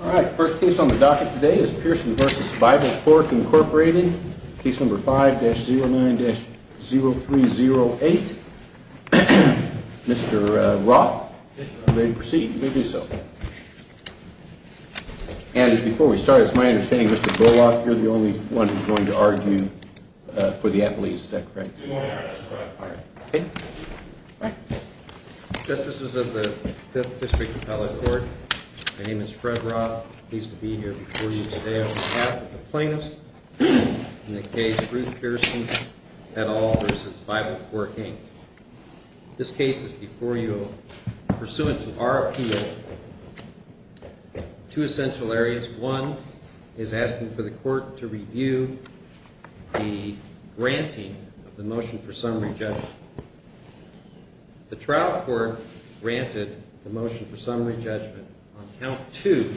All right. First case on the docket today is Pearson v. Bible Pork, Inc. Case No. 5-09-0308. Mr. Roth? Yes, Your Honor. May we proceed? You may do so. And before we start, it's my understanding, Mr. Bullock, you're the only one who's going to argue for the appellees. Is that correct? Your Honor, that's correct. Okay. All right. Justices of the 5th District Appellate Court, my name is Fred Roth. I'm pleased to be here before you today on behalf of the plaintiffs in the case Ruth Pearson et al. v. Bible Pork, Inc. This case is before you pursuant to our appeal. Two essential areas. One is asking for the court to review the granting of the motion for summary judgment. The trial court granted the motion for summary judgment on Count 2,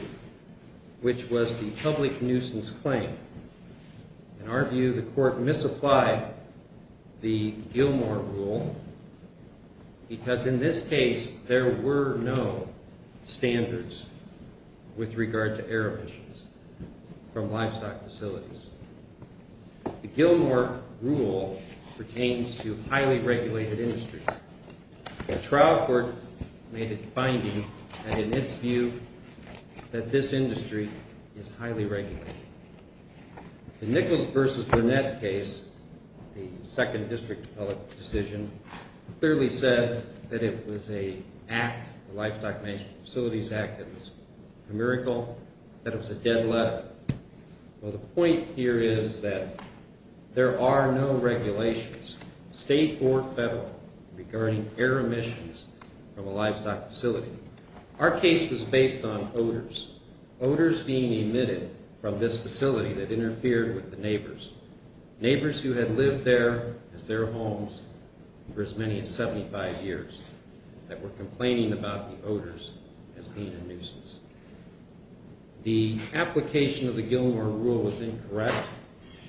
which was the public nuisance claim. In our view, the court misapplied the Gilmore rule because in this case there were no standards with regard to air emissions from livestock facilities. The Gilmore rule pertains to highly regulated industries. The trial court made a finding that in its view that this industry is highly regulated. The Nichols v. Burnett case, the 2nd District Appellate decision, clearly said that it was an act, the Livestock Facilities Act, that was a miracle, that it was a dead letter. Well, the point here is that there are no regulations, state or federal, regarding air emissions from a livestock facility. Our case was based on odors. Odors being emitted from this facility that interfered with the neighbors. Neighbors who had lived there as their homes for as many as 75 years that were complaining about the odors as being a nuisance. The application of the Gilmore rule was incorrect.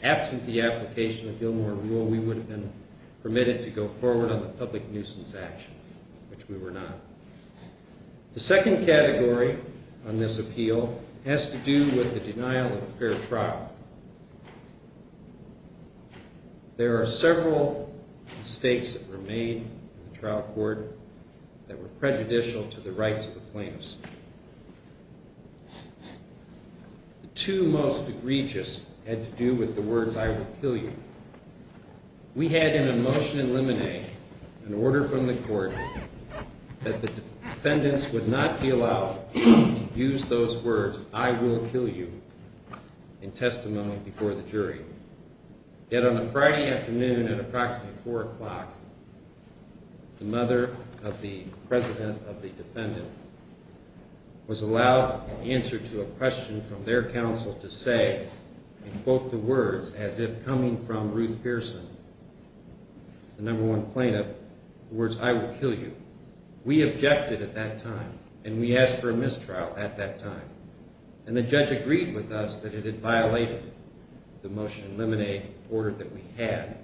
Absent the application of the Gilmore rule, we would have been permitted to go forward on the public nuisance action, which we were not. The second category on this appeal has to do with the denial of a fair trial. There are several mistakes that were made in the trial court that were prejudicial to the rights of the plaintiffs. The two most egregious had to do with the words, I will kill you. We had in a motion in limine an order from the court that the defendants would not be allowed to use those words, I will kill you, in testimony before the jury. Yet on a Friday afternoon at approximately 4 o'clock, the mother of the president of the defendant was allowed an answer to a question from their counsel to say, and quote the words as if coming from Ruth Pearson, the number one plaintiff, the words, I will kill you. We objected at that time, and we asked for a mistrial at that time, and the judge agreed with us that it had violated the motion in limine order that we had,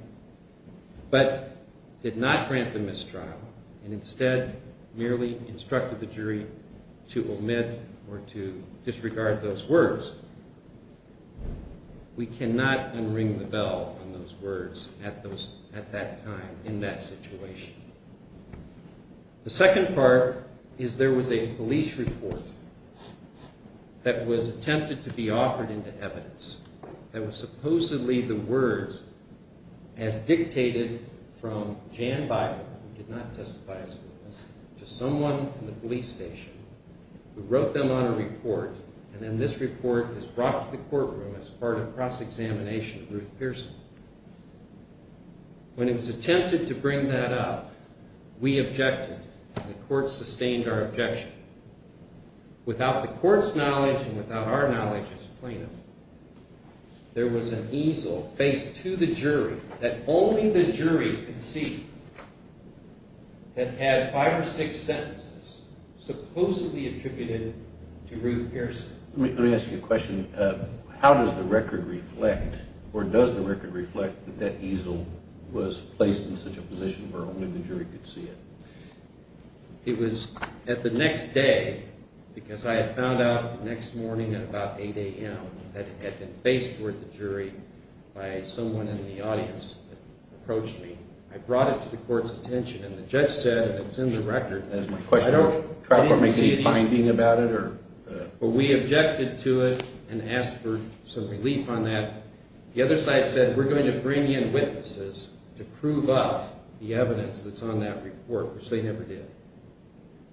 but did not grant the mistrial, and instead merely instructed the jury to omit or to disregard those words. We cannot unring the bell on those words at that time in that situation. The second part is there was a police report that was attempted to be offered into evidence that was supposedly the words as dictated from Jan Bible, who did not testify as a witness, to someone in the police station who wrote them on a report, and then this report is brought to the courtroom as part of cross-examination of Ruth Pearson. When it was attempted to bring that up, we objected, and the court sustained our objection. Without the court's knowledge and without our knowledge as plaintiffs, there was an easel faced to the jury that only the jury could see that had five or six sentences supposedly attributed to Ruth Pearson. Let me ask you a question. How does the record reflect, or does the record reflect, that that easel was placed in such a position where only the jury could see it? It was at the next day, because I had found out the next morning at about 8 a.m. that it had been faced toward the jury by someone in the audience that approached me. I brought it to the court's attention, and the judge said that it's in the record. I didn't see any finding about it. We objected to it and asked for some relief on that. The other side said, we're going to bring in witnesses to prove up the evidence that's on that report, which they never did.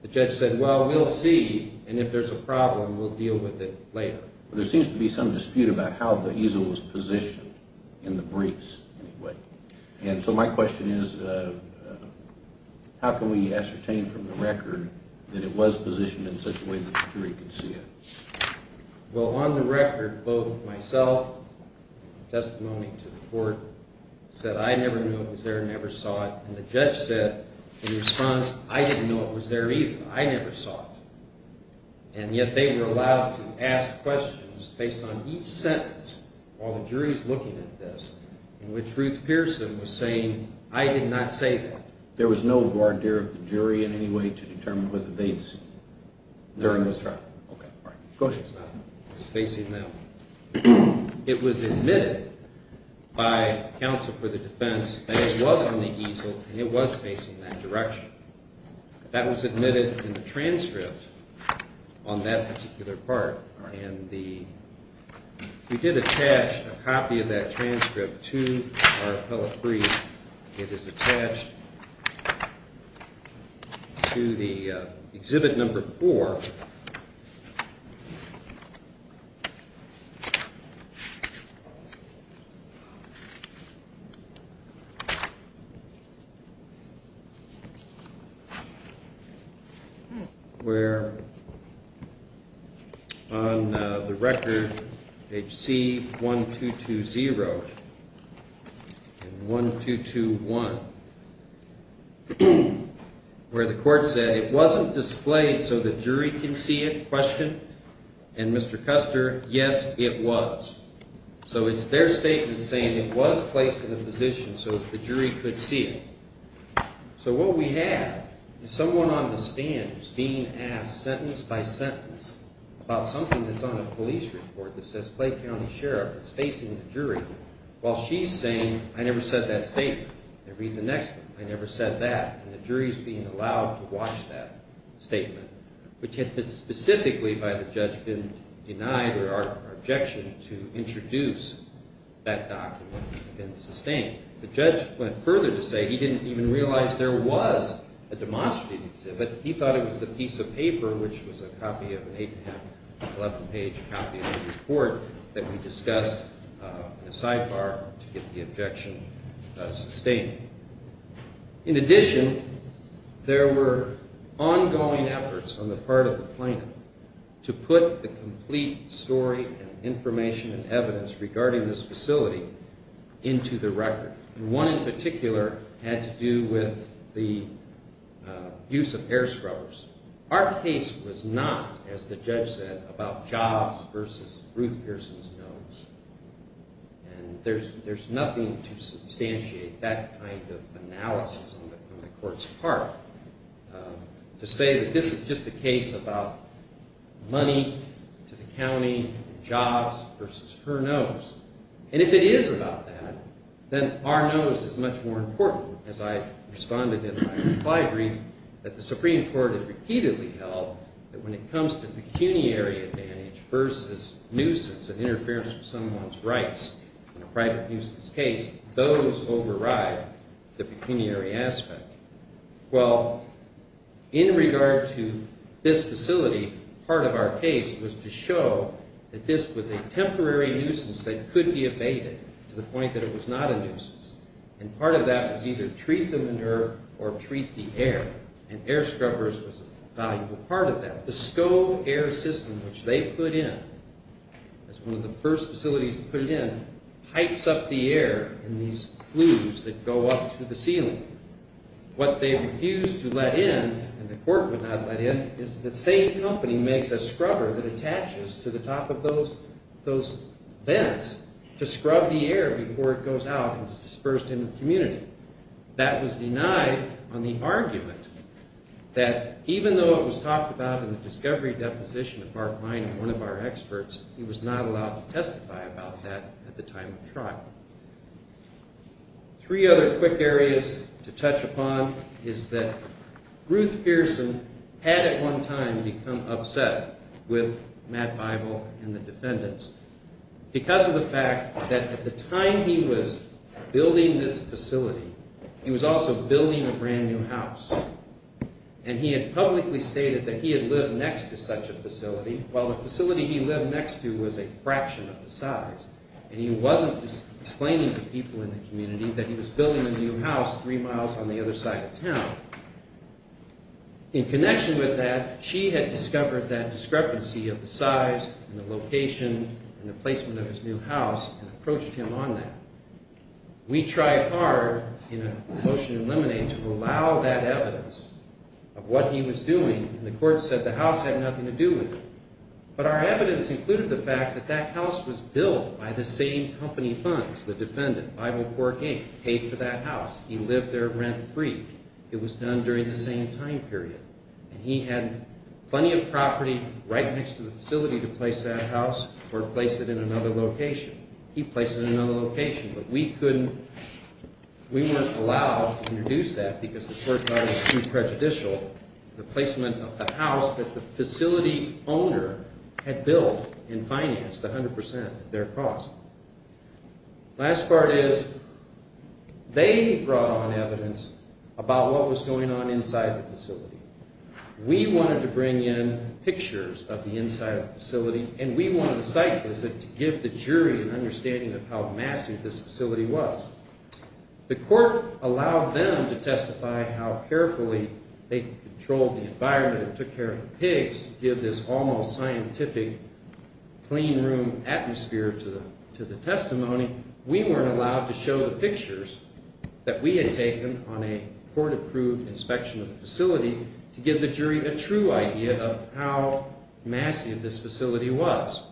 The judge said, well, we'll see, and if there's a problem, we'll deal with it later. There seems to be some dispute about how the easel was positioned in the briefs anyway. My question is, how can we ascertain from the record that it was positioned in such a way that the jury could see it? Well, on the record, both myself, testimony to the court, said I never knew it was there, never saw it, and the judge said in response, I didn't know it was there either. I never saw it, and yet they were allowed to ask questions based on each sentence while the jury's looking at this, in which Ruth Pearson was saying, I did not say that. There was no voir dire of the jury in any way to determine whether they'd seen it during this trial? No. It was admitted by counsel for the defense that it was in the easel and it was facing that direction. That was admitted in the transcript on that particular part, and we did attach a copy of that transcript to our appellate brief. It is attached to the Exhibit No. 4. Where on the record, H.C. 1220 and 1221, where the court said it wasn't displayed so the jury can see it, and Mr. Custer, yes, it was. So it's their statement saying it was placed in a position so the jury could see it. So what we have is someone on the stand who's being asked sentence by sentence about something that's on a police report that says Clay County Sheriff is facing the jury, while she's saying, I never said that statement. They read the next one. I never said that. And the jury's being allowed to watch that statement, which had specifically by the judge been denied or our objection to introduce that document had been sustained. The judge went further to say he didn't even realize there was a demonstrative exhibit. But he thought it was a piece of paper, which was a copy of an 8-and-a-half, 11-page copy of the report that we discussed in the sidebar to get the objection sustained. In addition, there were ongoing efforts on the part of the plaintiff to put the complete story and information and evidence regarding this facility into the record. And one in particular had to do with the use of air scrubbers. Our case was not, as the judge said, about Jobs versus Ruth Pearson's nose. And there's nothing to substantiate that kind of analysis on the court's part to say that this is just a case about money to the county, Jobs versus her nose. And if it is about that, then our nose is much more important. As I responded in my reply brief, that the Supreme Court has repeatedly held that when it comes to pecuniary advantage versus nuisance and interference with someone's rights in a private nuisance case, those override the pecuniary aspect. Well, in regard to this facility, part of our case was to show that this was a temporary nuisance that could be abated to the point that it was not a nuisance. And part of that was either treat the manure or treat the air. And air scrubbers was a valuable part of that. But the SCO air system, which they put in as one of the first facilities to put it in, pipes up the air in these flues that go up to the ceiling. What they refused to let in, and the court would not let in, is the same company makes a scrubber that attaches to the top of those vents to scrub the air before it goes out and is dispersed in the community. That was denied on the argument that even though it was talked about in the discovery deposition of Mark Miner, one of our experts, he was not allowed to testify about that at the time of trial. Three other quick areas to touch upon is that Ruth Pearson had at one time become upset with Matt Bible and the defendants. Because of the fact that at the time he was building this facility, he was also building a brand new house. And he had publicly stated that he had lived next to such a facility, while the facility he lived next to was a fraction of the size. And he wasn't explaining to people in the community that he was building a new house three miles from the other side of town. In connection with that, she had discovered that discrepancy of the size and the location and the placement of his new house and approached him on that. We tried hard in a motion to eliminate to allow that evidence of what he was doing, and the court said the house had nothing to do with it. But our evidence included the fact that that house was built by the same company funds, the defendant, Bible Cork, Inc., paid for that house. He lived there rent free. It was done during the same time period. And he had plenty of property right next to the facility to place that house or place it in another location. He placed it in another location, but we couldn't, we weren't allowed to introduce that because the court thought it was too prejudicial. The placement of the house that the facility owner had built and financed 100% of their cost. Last part is, they brought on evidence about what was going on inside the facility. We wanted to bring in pictures of the inside of the facility, and we wanted a site visit to give the jury an understanding of how massive this facility was. The court allowed them to testify how carefully they controlled the environment and took care of the pigs to give this almost scientific clean room atmosphere to the testimony. We weren't allowed to show the pictures that we had taken on a court approved inspection of the facility to give the jury a true idea of how massive this facility was.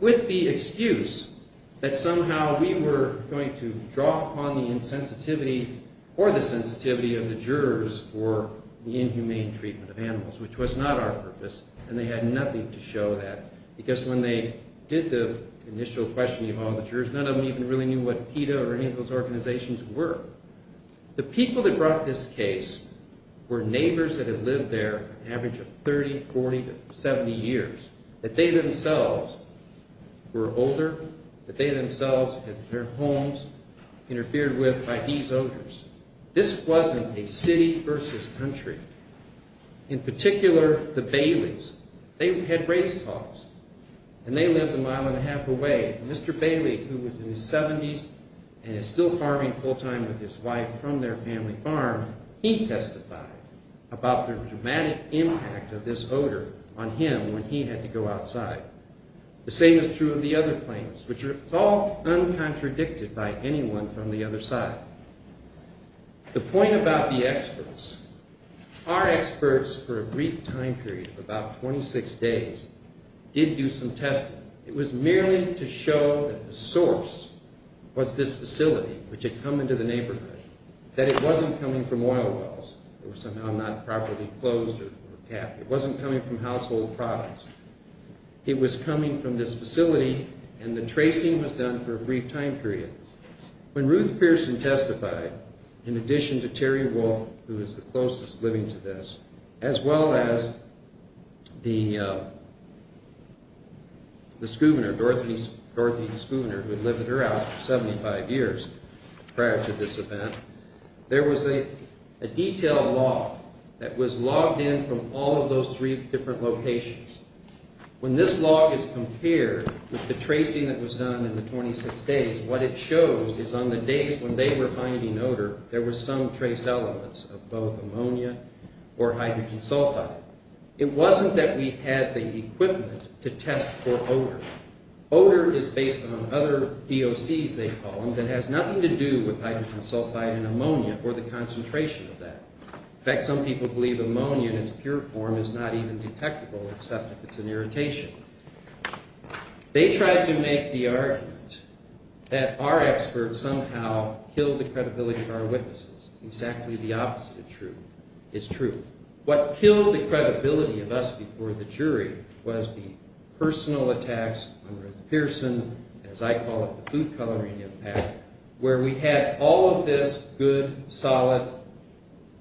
With the excuse that somehow we were going to draw upon the insensitivity or the sensitivity of the jurors for the inhumane treatment of animals, which was not our purpose. And they had nothing to show that because when they did the initial questioning of all the jurors, none of them even really knew what PETA or any of those organizations were. The people that brought this case were neighbors that had lived there an average of 30, 40, 70 years. That they themselves were older, that they themselves had their homes interfered with by these owners. This wasn't a city versus country. In particular, the Bailey's, they had raised hogs and they lived a mile and a half away. Mr. Bailey, who was in his 70s and is still farming full time with his wife from their family farm, he testified about the dramatic impact of this odor on him when he had to go outside. The same is true of the other plaintiffs, which are all uncontradicted by anyone from the other side. The point about the experts. Our experts, for a brief time period of about 26 days, did do some testing. It was merely to show that the source was this facility, which had come into the neighborhood. That it wasn't coming from oil wells that were somehow not properly closed or capped. It wasn't coming from household products. It was coming from this facility and the tracing was done for a brief time period. When Ruth Pearson testified, in addition to Terry Wolfe, who is the closest living to this, as well as the scuvenor, Dorothy Scuvenor, who had lived at her house for 75 years prior to this event, there was a detailed log that was logged in from all of those three different locations. When this log is compared with the tracing that was done in the 26 days, what it shows is on the days when they were finding odor, there were some trace elements of both ammonia or hydrogen sulfide. It wasn't that we had the equipment to test for odor. Odor is based on other DOCs, they call them, that has nothing to do with hydrogen sulfide and ammonia or the concentration of that. In fact, some people believe ammonia in its pure form is not even detectable except if it's an irritation. They tried to make the argument that our experts somehow killed the credibility of our witnesses. Exactly the opposite is true. What killed the credibility of us before the jury was the personal attacks on Ruth Pearson, as I call it, the food coloring impact, where we had all of this good, solid,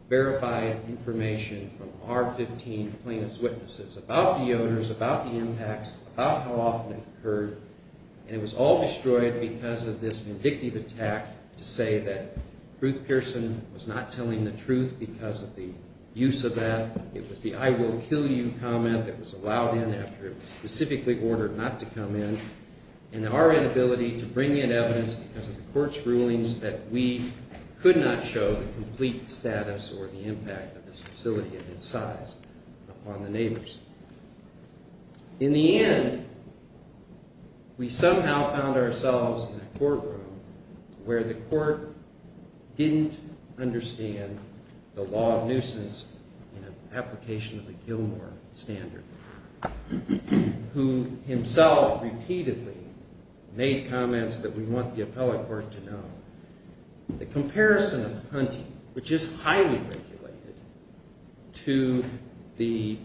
verified information from our 15 plaintiff's witnesses about the odors, about the impacts, about how often it occurred, and it was all destroyed because of this vindictive attack to say that Ruth Pearson was not telling the truth because of the use of that. It was the I will kill you comment that was allowed in after it was specifically ordered not to come in, and our inability to bring in evidence because of the court's rulings that we could not show the complete status or the impact of this facility and its size upon the neighbors. In the end, we somehow found ourselves in a courtroom where the court didn't understand the law of nuisance in an application of the Gilmore standard, who himself repeatedly made comments that we want the appellate court to know. The comparison of hunting, which is highly regulated, to the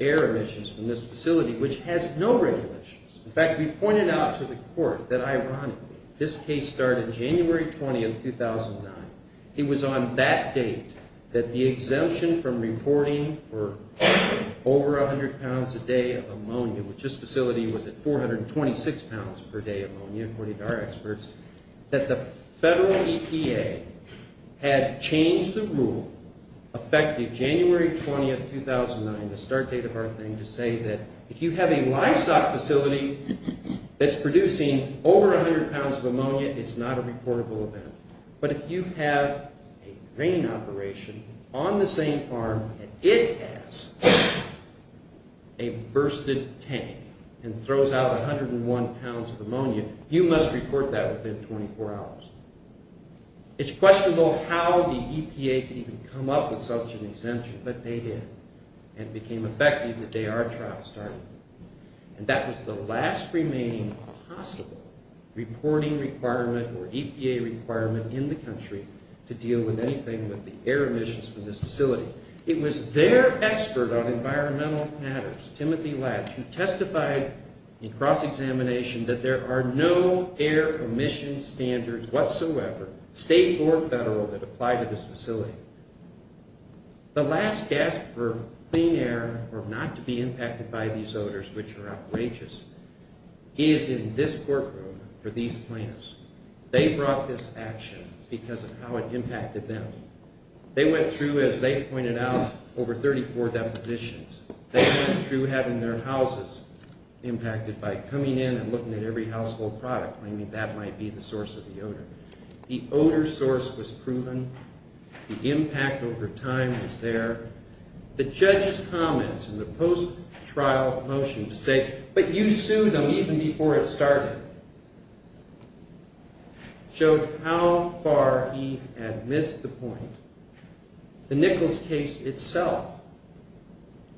air emissions from this facility, which has no regulations. In fact, we pointed out to the court that, ironically, this case started January 20, 2009. It was on that date that the exemption from reporting for over 100 pounds a day of ammonia, which this facility was at 426 pounds per day of ammonia, according to our experts, that the federal EPA had changed the rule affecting January 20, 2009, the start date of our thing, to say that if you have a livestock facility that's producing over 100 pounds of ammonia, it's not a reportable event. But if you have a grain operation on the same farm and it has a bursted tank and throws out 101 pounds of ammonia, you must report that within 24 hours. It's questionable how the EPA could even come up with such an exemption, but they did. And it became effective the day our trial started. And that was the last remaining possible reporting requirement or EPA requirement in the country to deal with anything with the air emissions from this facility. It was their expert on environmental matters, Timothy Latch, who testified in cross-examination that there are no air emission standards whatsoever, state or federal, that apply to this facility. The last gasp for clean air or not to be impacted by these odors, which are outrageous, is in this courtroom for these plaintiffs. They brought this action because of how it impacted them. They went through, as they pointed out, over 34 depositions. They went through having their houses impacted by coming in and looking at every household product, claiming that might be the source of the odor. The odor source was proven. The impact over time was there. The judge's comments in the post-trial motion to say, but you sued them even before it started, showed how far he had missed the point. The Nichols case itself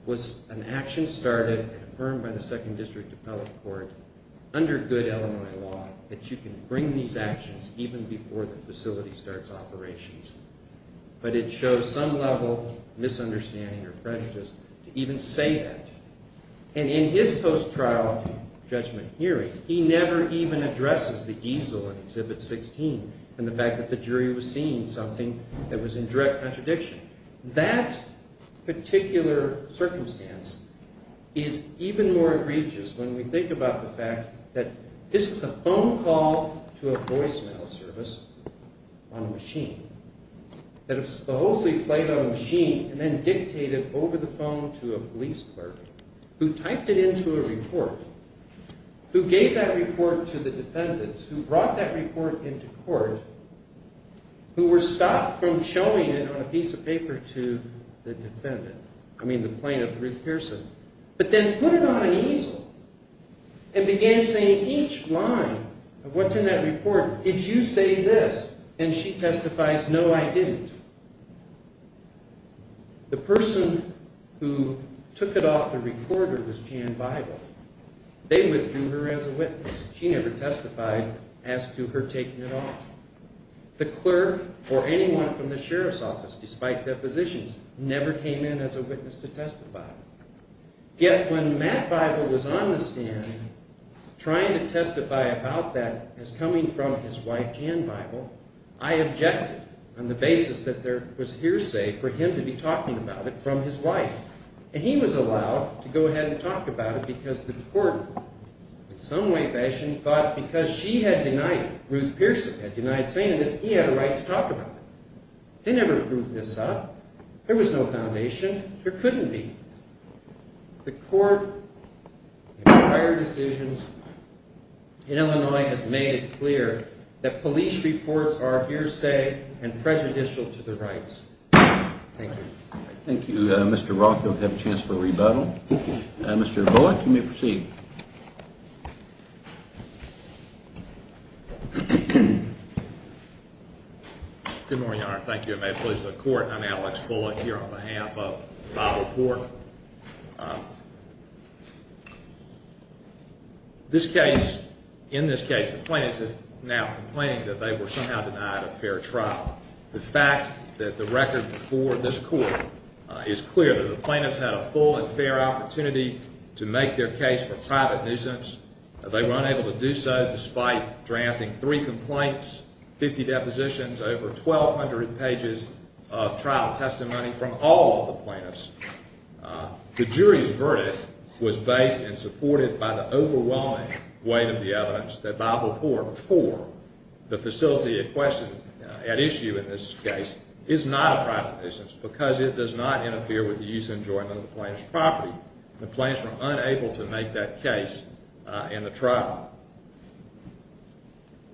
was an action started and confirmed by the Second District Appellate Court under good Illinois law, that you can bring these actions even before the facility starts operations. But it shows some level of misunderstanding or prejudice to even say that. And in his post-trial judgment hearing, he never even addresses the easel in Exhibit 16 and the fact that the jury was seeing something that was in direct contradiction. That particular circumstance is even more egregious when we think about the fact that this was a phone call to a voicemail service on a machine. That it supposedly played on a machine and then dictated over the phone to a police clerk who typed it into a report, who gave that report to the defendants, who brought that report into court, who were stopped from showing it on a piece of paper to the defendant, I mean the plaintiff, Ruth Pearson, but then put it on an easel and began saying each line of what's in that report, did you say this? And she testifies, no, I didn't. The person who took it off the recorder was Jan Bible. They withdrew her as a witness. She never testified as to her taking it off. The clerk or anyone from the sheriff's office, despite depositions, never came in as a witness to testify. Yet when Matt Bible was on the stand trying to testify about that as coming from his wife Jan Bible, I objected on the basis that there was hearsay for him to be talking about it from his wife. And he was allowed to go ahead and talk about it because the court, in some way, fashion, thought because she had denied it, Ruth Pearson had denied saying this, he had a right to talk about it. They never proved this up. There was no foundation. There couldn't be. The court in prior decisions in Illinois has made it clear that police reports are hearsay and prejudicial to the rights. Thank you. Thank you, Mr. Rothfeld. We have a chance for a rebuttal. Mr. Bullock, you may proceed. Good morning, Your Honor. Thank you. May it please the court, I'm Alex Bullock here on behalf of Bible Court. This case, in this case, the plaintiffs are now complaining that they were somehow denied a fair trial. The fact that the record before this court is clear that the plaintiffs had a full and fair opportunity to make their case for private nuisance. They were unable to do so despite drafting three complaints, 50 depositions, over 1,200 pages of trial testimony from all of the plaintiffs. The jury's verdict was based and supported by the overwhelming weight of the evidence that Bible Court for the facility at issue in this case is not a private nuisance because it does not interfere with the use and enjoyment of the plaintiff's property. The plaintiffs were unable to make that case in the trial.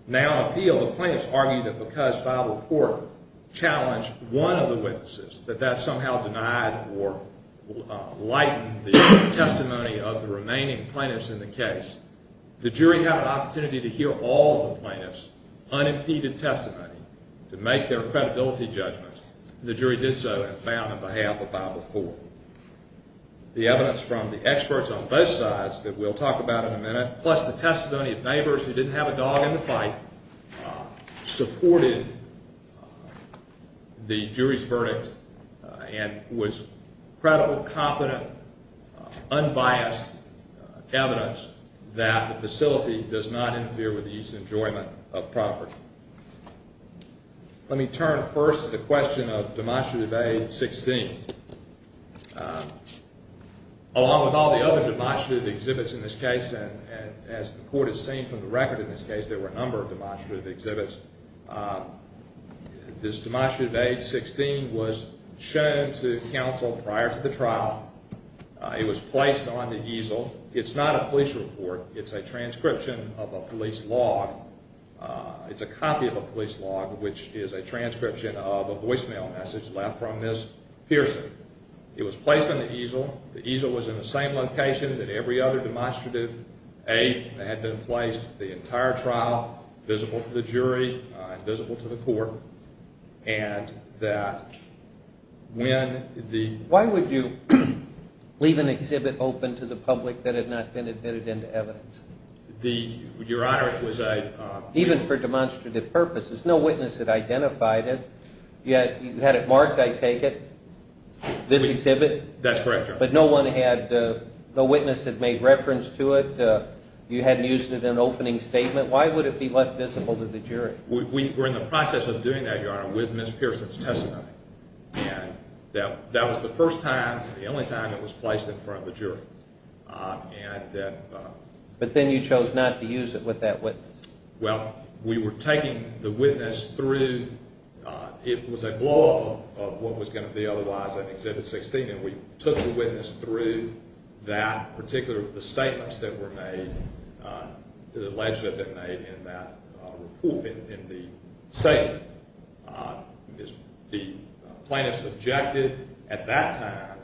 Now appeal, the plaintiffs argue that because Bible Court challenged one of the witnesses, that that somehow denied or lightened the testimony of the remaining plaintiffs in the case. The jury had an opportunity to hear all of the plaintiffs' unimpeded testimony to make their credibility judgment. The jury did so and found on behalf of Bible Court. The evidence from the experts on both sides that we'll talk about in a minute, plus the testimony of neighbors who didn't have a dog in the fight, supported the jury's verdict and was credible, competent, unbiased evidence that the facility does not interfere with the use and enjoyment of property. Let me turn first to the question of demonstrative age 16. Along with all the other demonstrative exhibits in this case, as the court has seen from the record in this case, there were a number of demonstrative exhibits. This demonstrative age 16 was shown to counsel prior to the trial. It was placed on the easel. It's not a police report. It's a transcription of a police log. It's a copy of a police log, which is a transcription of a voicemail message left from Ms. Pearson. It was placed on the easel. The easel was in the same location that every other demonstrative age had been placed. The entire trial, visible to the jury, visible to the court, and that when the… Why would you leave an exhibit open to the public that had not been admitted into evidence? Your Honor, it was a… Even for demonstrative purposes. No witness had identified it. You had it marked, I take it, this exhibit. That's correct, Your Honor. But no witness had made reference to it. You hadn't used it in an opening statement. Why would it be left visible to the jury? We were in the process of doing that, Your Honor, with Ms. Pearson's testimony. And that… But then you chose not to use it with that witness. Well, we were taking the witness through… It was a blog of what was going to be otherwise an Exhibit 16. And we took the witness through that particular, the statements that were made, the legislation that had been made in that report, in the statement. The plaintiffs objected at that time,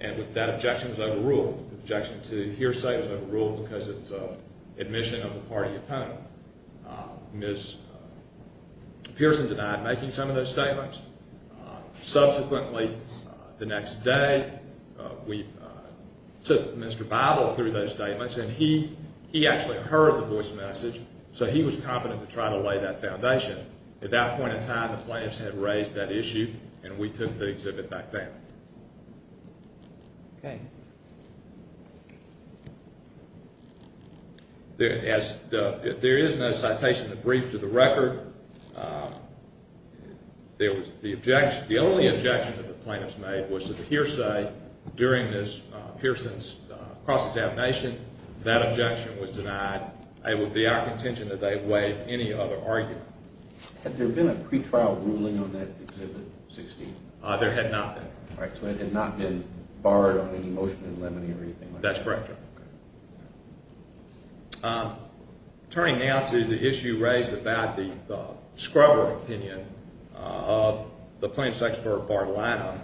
and that objection was overruled. The objection to hearsay was overruled because it's an admission of the party opponent. Ms. Pearson denied making some of those statements. Subsequently, the next day, we took Mr. Bible through those statements, and he actually heard the voice message, so he was competent to try to lay that foundation. At that point in time, the plaintiffs had raised that issue, and we took the exhibit back down. Okay. There is no citation to brief to the record. The only objection that the plaintiffs made was that the hearsay during Ms. Pearson's cross-examination, that objection was denied. It would be our contention that they have waived any other argument. Had there been a pretrial ruling on that Exhibit 16? There had not been. All right. So it had not been barred on any motion in limine or anything like that? That's correct, Your Honor. Turning now to the issue raised about the scrubber opinion of the Plaintiffs' Expert, Bart Lanham,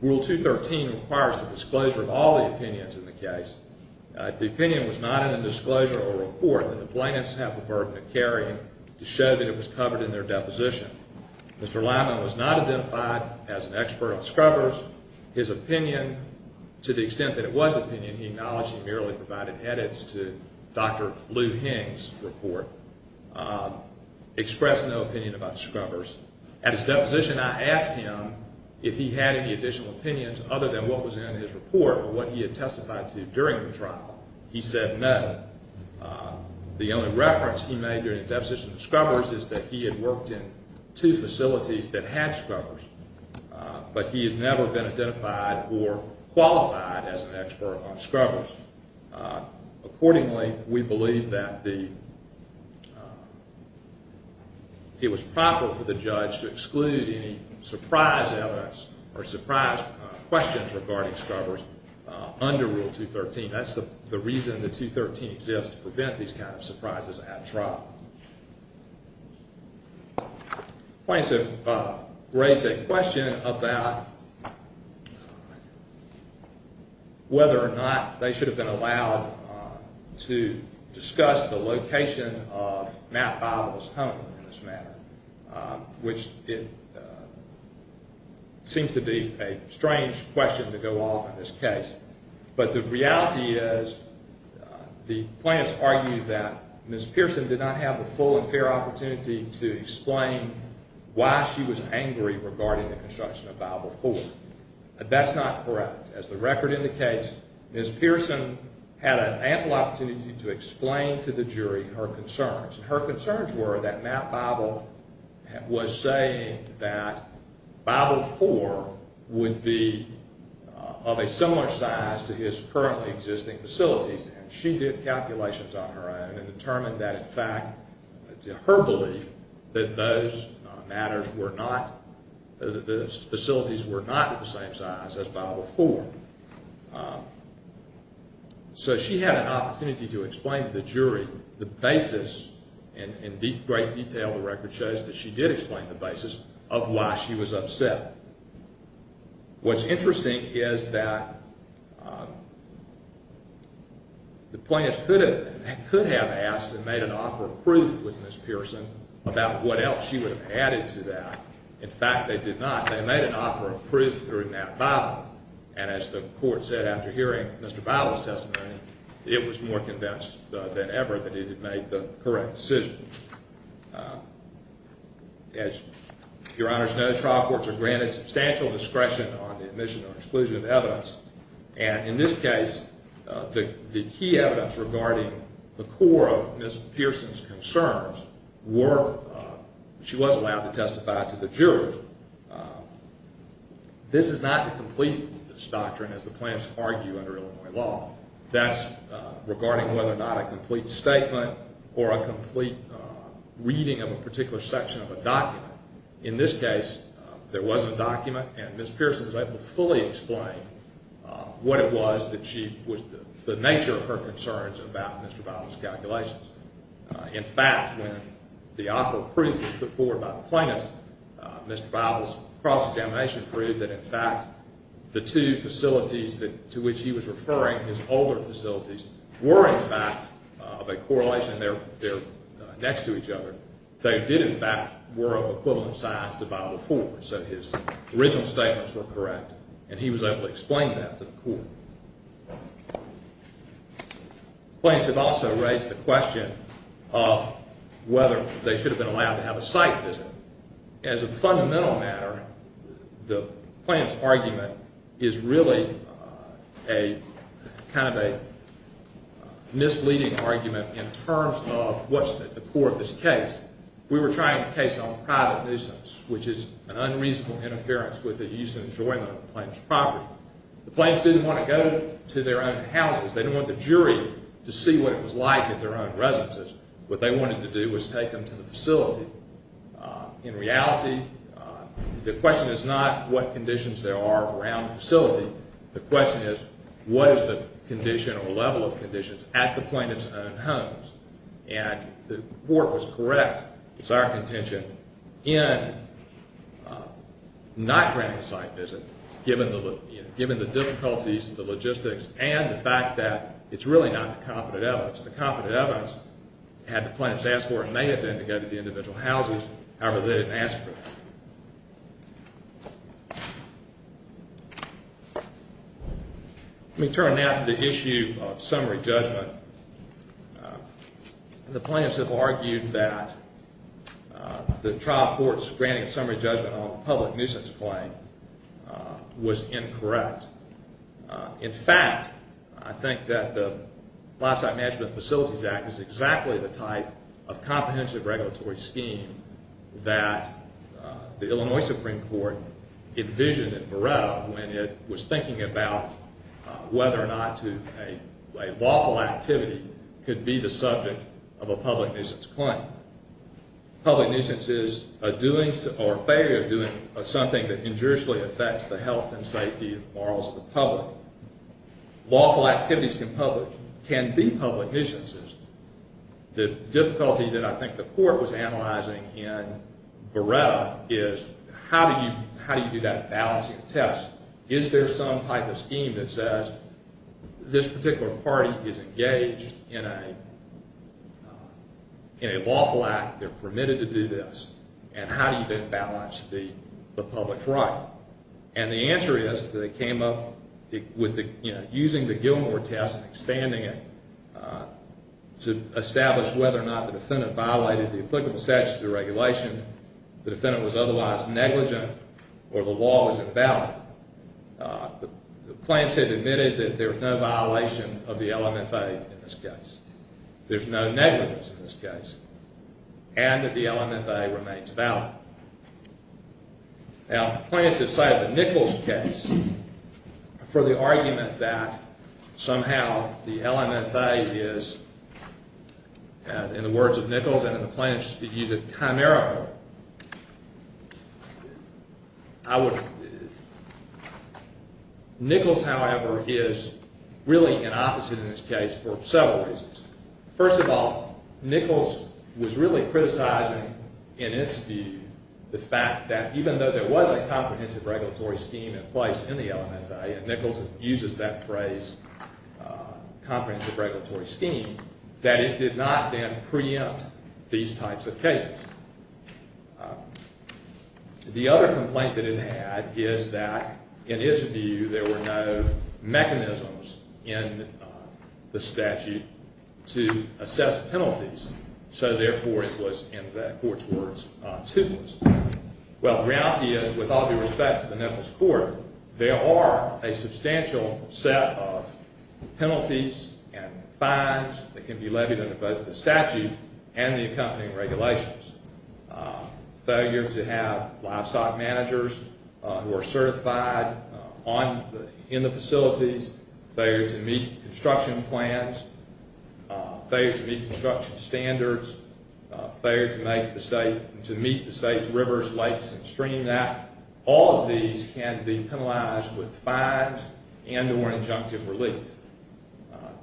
Rule 213 requires the disclosure of all the opinions in the case. If the opinion was not in the disclosure or report, then the plaintiffs have the burden of carrying to show that it was covered in their deposition. Mr. Lanham was not identified as an expert on scrubbers. His opinion, to the extent that it was opinion, he acknowledged he merely provided edits to Dr. Lou Hing's report, expressed no opinion about scrubbers. At his deposition, I asked him if he had any additional opinions other than what was in his report or what he had testified to during the trial. He said no. The only reference he made during the deposition of scrubbers is that he had worked in two facilities that had scrubbers, but he had never been identified or qualified as an expert on scrubbers. Accordingly, we believe that it was proper for the judge to exclude any surprise evidence or surprise questions regarding scrubbers under Rule 213. That's the reason the 213 exists, to prevent these kinds of surprises at trial. The plaintiffs have raised a question about whether or not they should have been allowed to discuss the location of Matt Biola's home in this matter, which seems to be a strange question to go off in this case. But the reality is, the plaintiffs argue that Ms. Pearson did not have a full and fair opportunity to explain why she was angry regarding the construction of Bible IV. That's not correct. As the record indicates, Ms. Pearson had an ample opportunity to explain to the jury her concerns. Her concerns were that Matt Biola was saying that Bible IV would be of a similar size to his currently existing facilities. She did calculations on her own and determined that in fact, her belief that those facilities were not the same size as Bible IV. So she had an opportunity to explain to the jury the basis, and in great detail the record shows that she did explain the basis, of why she was upset. What's interesting is that the plaintiffs could have asked and made an offer of proof with Ms. Pearson about what else she would have added to that. In fact, they did not. They made an offer of proof during that Bible, and as the court said after hearing Mr. Biola's testimony, it was more convinced than ever that it had made the correct decision. As your honors know, trial courts are granted substantial discretion on the admission or exclusion of evidence, and in this case, the key evidence regarding the core of Ms. Pearson's concerns were, she was allowed to testify to the jury, but this is not the complete doctrine as the plaintiffs argue under Illinois law. That's regarding whether or not a complete statement, or a complete reading of a particular section of a document. In this case, there wasn't a document, and Ms. Pearson was able to fully explain what it was, the nature of her concerns about Mr. Biola's calculations. In fact, when the offer of proof was put forward by the plaintiffs, Mr. Biola's cross-examination proved that, in fact, the two facilities to which he was referring, his older facilities, were, in fact, of a correlation there next to each other. They did, in fact, were of equivalent size to Bible IV, so his original statements were correct, and he was able to explain that to the court. Plaintiffs have also raised the question of whether they should have been allowed to have a site visit. As a fundamental matter, the plaintiffs' argument is really kind of a misleading argument in terms of what's at the core of this case. We were trying a case on private nuisance, which is an unreasonable interference with the use and enjoyment of a plaintiff's property. The plaintiffs didn't want to go to their own houses. They didn't want the jury to see what it was like at their own residences. What they wanted to do was take them to the facility. In reality, the question is not what conditions there are around the facility. The question is, what is the condition or level of conditions at the plaintiff's own homes? And the court was correct. It's our contention in not granting a site visit, given the difficulties, the logistics, and the fact that it's really not the competent evidence. The competent evidence had the plaintiffs ask for it, and they had been to go to the individual houses. However, they didn't ask for it. Let me turn now to the issue of summary judgment. The plaintiffs have argued that the trial court's granting of summary judgment on a public nuisance claim was incorrect. In fact, I think that the Lifestyle Management Facilities Act is exactly the type of comprehensive regulatory scheme that the Illinois Supreme Court envisioned in Morel when it was thinking about whether or not a lawful activity could be the subject of a public nuisance claim. Public nuisance is a doing or failure of doing of something that injuriously affects the health and safety and morals of the public. Lawful activities can be public nuisances. The difficulty that I think the court was analyzing in Beretta is how do you do that balancing test? Is there some type of scheme that says this particular party is engaged in a lawful act, they're permitted to do this, and how do you balance the public right? And the answer is that they came up with using the Gilmore test, expanding it, to establish whether or not the defendant violated the applicable statutes of the regulation, the defendant was otherwise negligent, or the law was invalid. The plaintiffs have admitted that there's no violation of the LMFA in this case. There's no negligence in this case. And that the LMFA remains valid. Now, plaintiffs have cited the Nichols case for the argument that somehow the LMFA is, in the words of Nichols and the plaintiffs, they use it chimerically. Nichols, however, is really an opposite in this case for several reasons. First of all, Nichols was really criticizing, in its view, the fact that even though there was a comprehensive regulatory scheme in place in the LMFA, and Nichols uses that phrase, comprehensive regulatory scheme, that it did not then preempt these types of cases. The other complaint that it had is that, in its view, there were no mechanisms in the statute to assess penalties. So, therefore, it was, in the court's words, toothless. Well, the reality is, with all due respect to the Nichols Court, there are a substantial set of penalties and fines that can be levied under both the statute and the accompanying regulations. Failure to have livestock managers who are certified in the facilities Failure to meet construction plans Failure to meet construction standards Failure to meet the state's rivers, lakes, and streams All of these can be penalized with fines and or injunctive relief.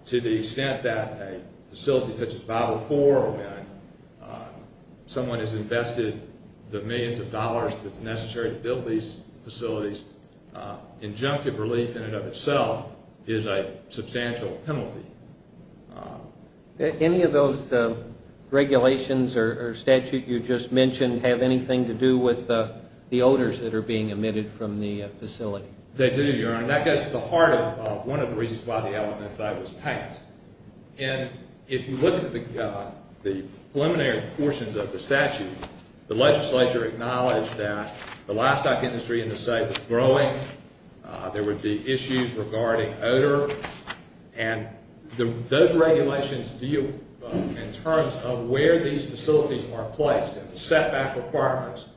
To the extent that a facility such as Bible IV, someone has invested the millions of dollars that's necessary to build these facilities, injunctive relief in and of itself is a substantial penalty. Any of those regulations or statutes you just mentioned have anything to do with the odors that are being emitted from the facility? They do, Your Honor. And that goes to the heart of one of the reasons why the LMFA was passed. And if you look at the preliminary portions of the statute, the legislature acknowledged that the livestock industry in the state was growing. There would be issues regarding odor. And those regulations deal in terms of where these facilities are placed and the setback requirements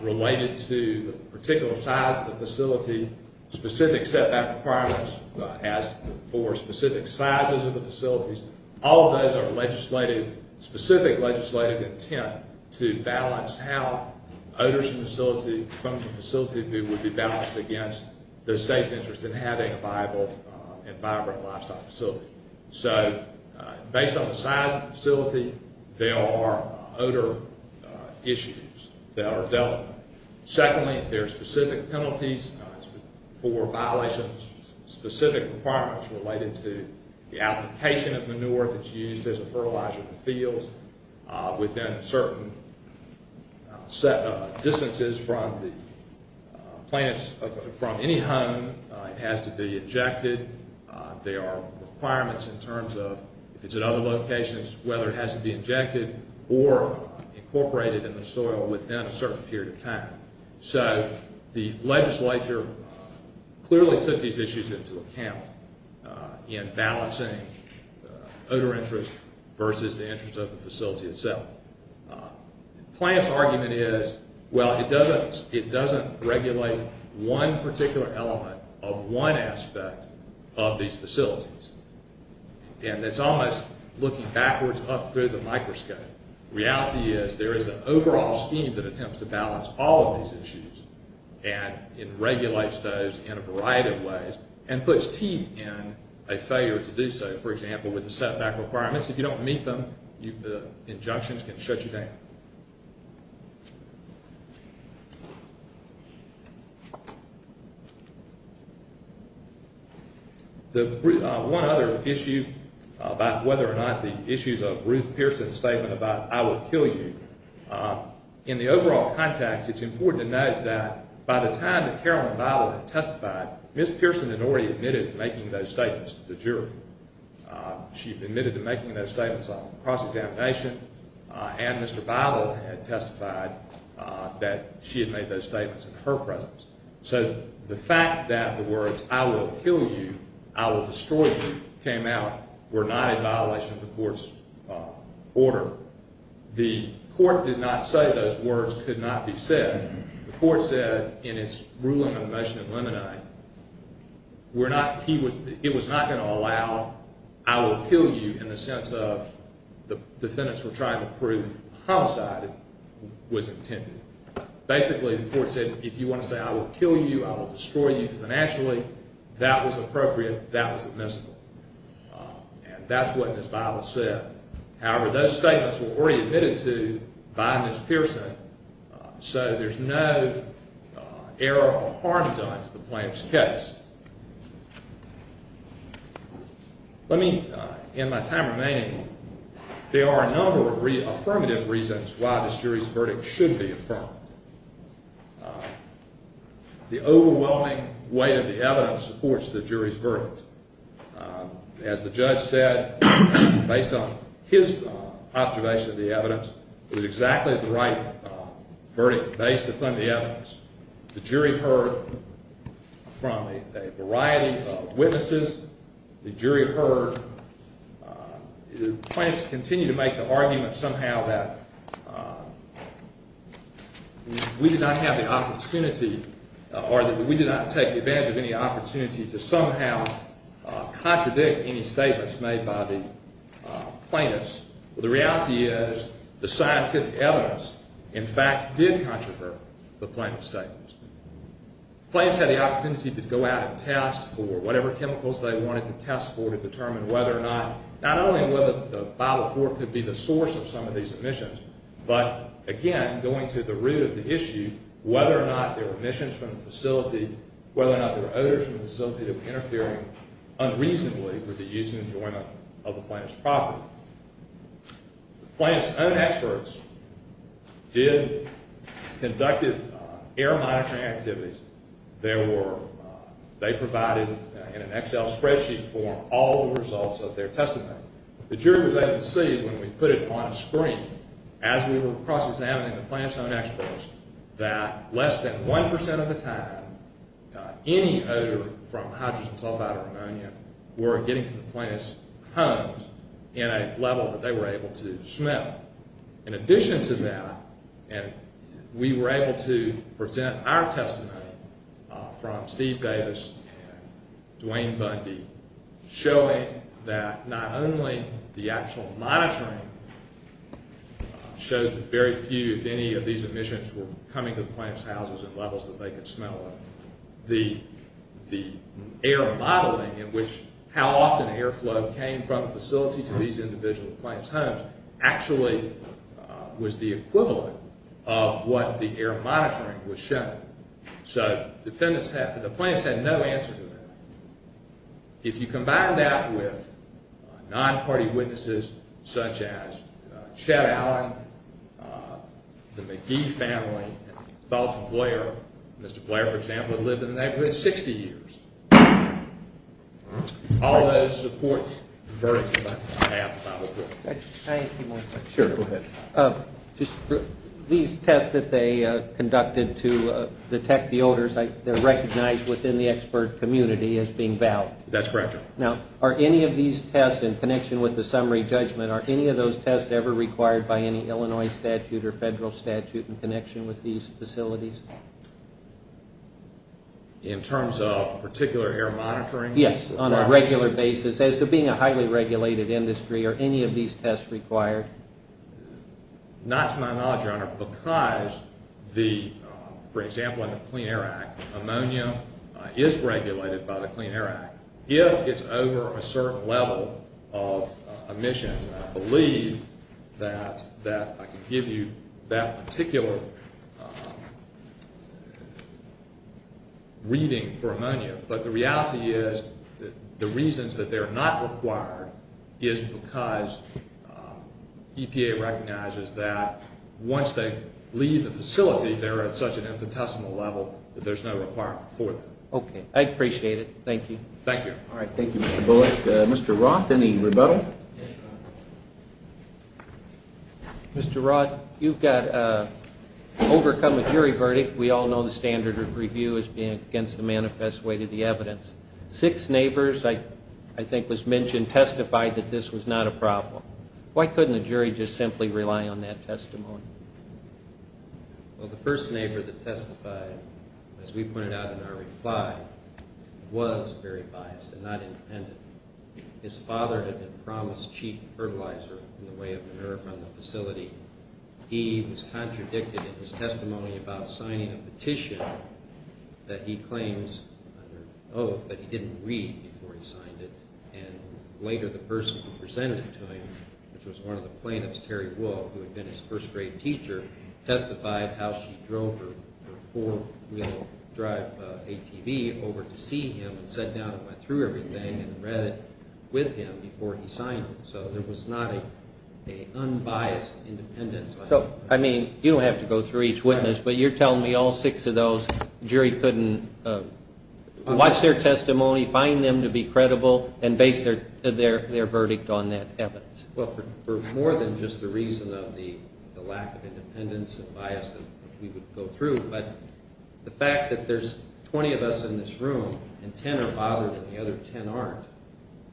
related to the particular size of the facility, specific setback requirements as for specific sizes of the facilities. All of those are legislative, specific legislative intent to balance how odors from the facility would be balanced against the state's interest in having a viable and vibrant livestock facility. So based on the size of the facility, there are odor issues that are dealt with. Secondly, there are specific penalties for violations of specific requirements related to the application of manure that's used as a fertilizer in the fields within certain distances from any home. It has to be ejected. There are requirements in terms of if it's at other locations, whether it has to be ejected or incorporated in the soil within a certain period of time. So the legislature clearly took these issues into account in balancing odor interest versus the interest of the facility itself. The plaintiff's argument is, well, it doesn't regulate one particular element of one aspect of these facilities. And it's almost looking backwards up through the microscope. Reality is there is an overall scheme that attempts to balance all of these issues and it regulates those in a variety of ways and puts teeth in a failure to do so. For example, with the setback requirements, if you don't meet them, the injunctions can shut you down. The one other issue about whether or not the issues of Ruth Pearson's statement about I will kill you, in the overall context, it's important to note that by the time that Carolyn Bible had testified, Ms. Pearson had already admitted to making those statements to the jury. on cross-examination and Mr. Bible had testified on cross-examination. That she had made those statements in her presence. So the fact that the words I will kill you, I will destroy you, came out were not in violation of the court's order. The court did not say those words could not be said. The court said in its ruling on the motion of limine, it was not going to allow I will kill you in the sense of the defendants were trying to prove that basically the court said if you want to say I will kill you, I will destroy you financially, that was appropriate, that was admissible. And that's what Ms. Bible said. However, those statements were already admitted to by Ms. Pearson. So there's no error or harm done to the plaintiff's case. Let me, in my time remaining, there are a number of affirmative reasons why this jury's verdict should be affirmed. The overwhelming weight of the evidence supports the jury's verdict. As the judge said, based on his observation of the evidence, it was exactly the right verdict based upon the evidence. The jury heard from a variety of witnesses. The jury heard, the plaintiffs continued to make the argument somehow that we did not have the opportunity or that we did not take advantage of any opportunity to somehow contradict any statements made by the plaintiffs. The reality is the scientific evidence in fact did contravert the plaintiff's statements. The plaintiffs had the opportunity to go out and test for whatever chemicals they wanted to test for to determine whether or not, not only whether the Bible 4 could be the source of some of these emissions, but again, going to the root of the issue, whether or not there were emissions from the facility, whether or not there were odors from the facility that were interfering unreasonably with the use and enjoyment of the plaintiff's property. The plaintiff's own experts did, conducted error monitoring activities. They provided in an Excel spreadsheet form all the results of their testimony. The jury was able to see when we put it on screen as we were cross-examining the plaintiff's own experts that less than 1% of the time any odor from hydrogen sulfide or ammonia were getting to the plaintiff's homes in a level that they were able to smell. In addition to that, we were able to present our testimony from Steve Davis and Dwayne Bundy showing that not only the actual monitoring showed that very few of any of these emissions were coming to the plaintiff's houses in levels that they could smell of, the error modeling in which how often air flow came from the facility to these individual plaintiff's homes actually was the equivalent of what the error monitoring was showing. So the plaintiff's had no answer to that. If you combine that with non-party witnesses such as Chet Allen, the McGee family, Dr. Blair, Mr. Blair, for example, who lived in the neighborhood 60 years, all those support very much. Can I ask you one question? Sure, go ahead. These tests that they conducted to detect the odors, they're recognized within the expert community as being valid. That's correct. Now, are any of these tests in connection with the summary judgment, are any of those tests ever required by any Illinois statute or federal statute in connection with these facilities? In terms of particular air monitoring? Yes, on a regular basis. As to being a highly regulated industry, are any of these tests required? Not to my knowledge, Your Honor, because the, for example, in the Clean Air Act, ammonia is regulated by the Clean Air Act. If it's over a certain level of emission, I believe that I can give you that particular reading for ammonia. But the reality is the reasons that they're not required is because EPA recognizes that once they leave the facility there at such an infinitesimal level, that there's no requirement for them. Okay. I appreciate it. Thank you. Thank you. All right. Thank you, Mr. Bullock. Mr. Roth, any rebuttal? Mr. Roth, you've got overcome a jury verdict. We all know the standard of review is being against the manifest way to the evidence. Six neighbors, I think, was mentioned testified that this was not a problem. Why couldn't the jury just simply rely on that testimony? Well, the first neighbor that testified, as we pointed out in our reply, was very biased and not independent. His father had been promised cheap fertilizer in the way of manure from the facility. He was contradicted in his testimony about signing a petition that he claims under oath that he didn't read before he signed it. And later the person who presented it to him, which was one of the plaintiffs, Terry Wolf, who had been his first grade teacher, testified how she drove her four-wheel drive ATV over to see him and sat down and went through everything and read it with him before he signed it. So there was not an unbiased independence. So, I mean, you don't have to go through each witness, but you're telling me all six of those, the jury couldn't watch their testimony, find them to be credible, and base their verdict on that evidence. Well, for more than just the reason of the lack of independence and bias that we would go through, but the fact that there's 20 of us in this room and 10 are bothered and the other 10 aren't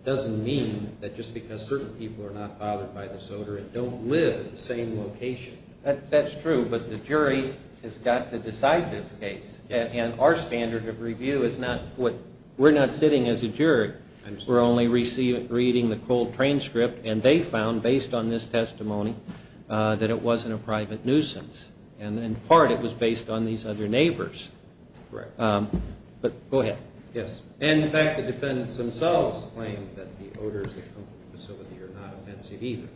doesn't mean that just because certain people are not bothered by this odor and don't live in the same location. That's true, but the jury has got to decide this case. And our standard of review is not what, we're not sitting as a jury. We're only reading the cold transcript and they found based on this testimony that it wasn't a private nuisance and in part it was based on these other neighbors. But go ahead. Yes, and in fact the defendants themselves claim that the odors that come from the facility are not offensive either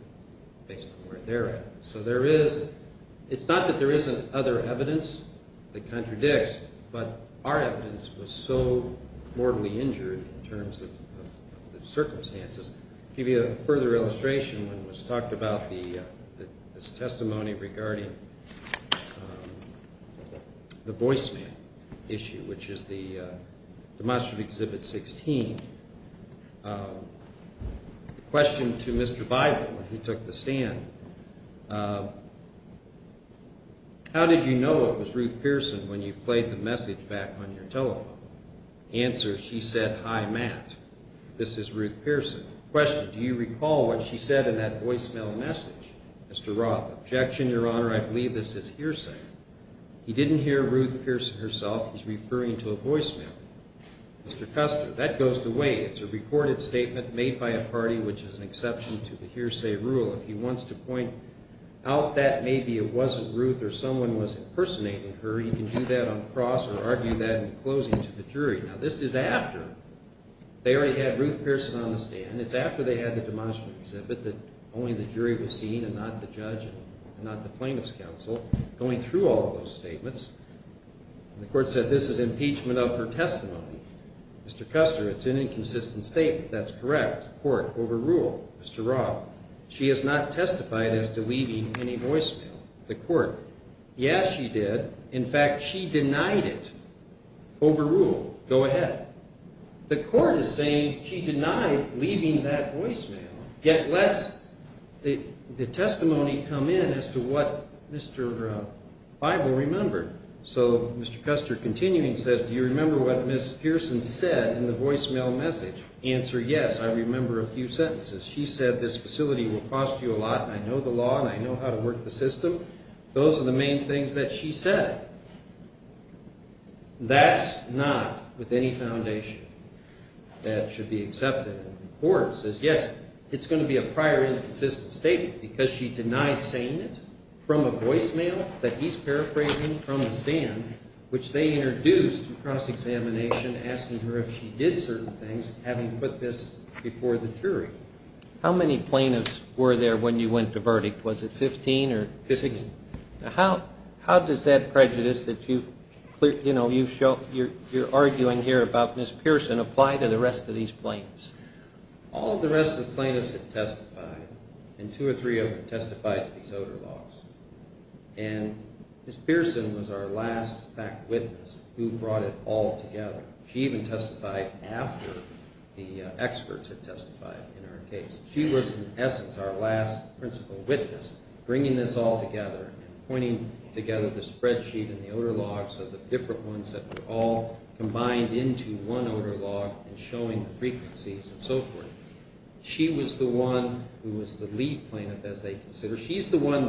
based on where they're at. So there is, it's not that there isn't other evidence that contradicts, but our evidence was so mortally injured in terms of the circumstances. To give you a further illustration, when it was talked about this testimony regarding the voicemail issue, which is the demonstrative Exhibit 16, the question to Mr. Bible, when he took the stand, how did you know it was Ruth Pearson when you played the message back on your telephone? Answer, she said, Hi, Matt. This is Ruth Pearson. Question, do you recall what she said in that voicemail message? Mr. Roth, objection, Your Honor, I believe this is hearsay. He didn't hear Ruth Pearson herself. He's referring to a voicemail. Mr. Custer, that goes away. It's a recorded statement made by a party, which is the jury. Now this is after they already had Ruth Pearson on the stand. It's after they had the demonstrative exhibit that only the jury was seeing and not the judge and not the plaintiff's counsel going through all those statements. The court said this is impeachment of her testimony. Mr. Custer, it's an inconsistent statement. That's correct. Court, overruled. Mr. Roth, she has not testified as to leaving any voicemail. The court, yes she did. In fact, she denied it. Overruled. Go ahead. The court is saying she denied leaving that voicemail, yet lets the testimony come in as to what Mr. Bible remembered. So Mr. Custer, continuing, says do you remember what Ms. Pearson said in the voicemail message? Answer, yes, I remember a few sentences. She said this facility will cost you a lot and I know the law and I know how to work the system. Those are the main things that she said. That's not with any foundation that should be accepted. The court says, yes, it's going to be a prior inconsistent statement because she denied saying it from a voicemail that he's paraphrasing from a stand, which they introduced in cross examination asking her if she did certain things, having put this before the jury. How many plaintiffs were there when you went to verdict? Was it 15? How does that prejudice that you're arguing here about Ms. Pearson apply to the rest of these plaintiffs? All of the rest of the plaintiffs had testified and two or three of them testified to these odor laws. Ms. Pearson was our last fact witness who brought it all together. She was the principal witness bringing this all together and pointing together the spreadsheet and the odor laws of the different ones that were all combined into one odor law and showing frequencies and so forth. She was the one who was the lead plaintiff as they considered. She's the one they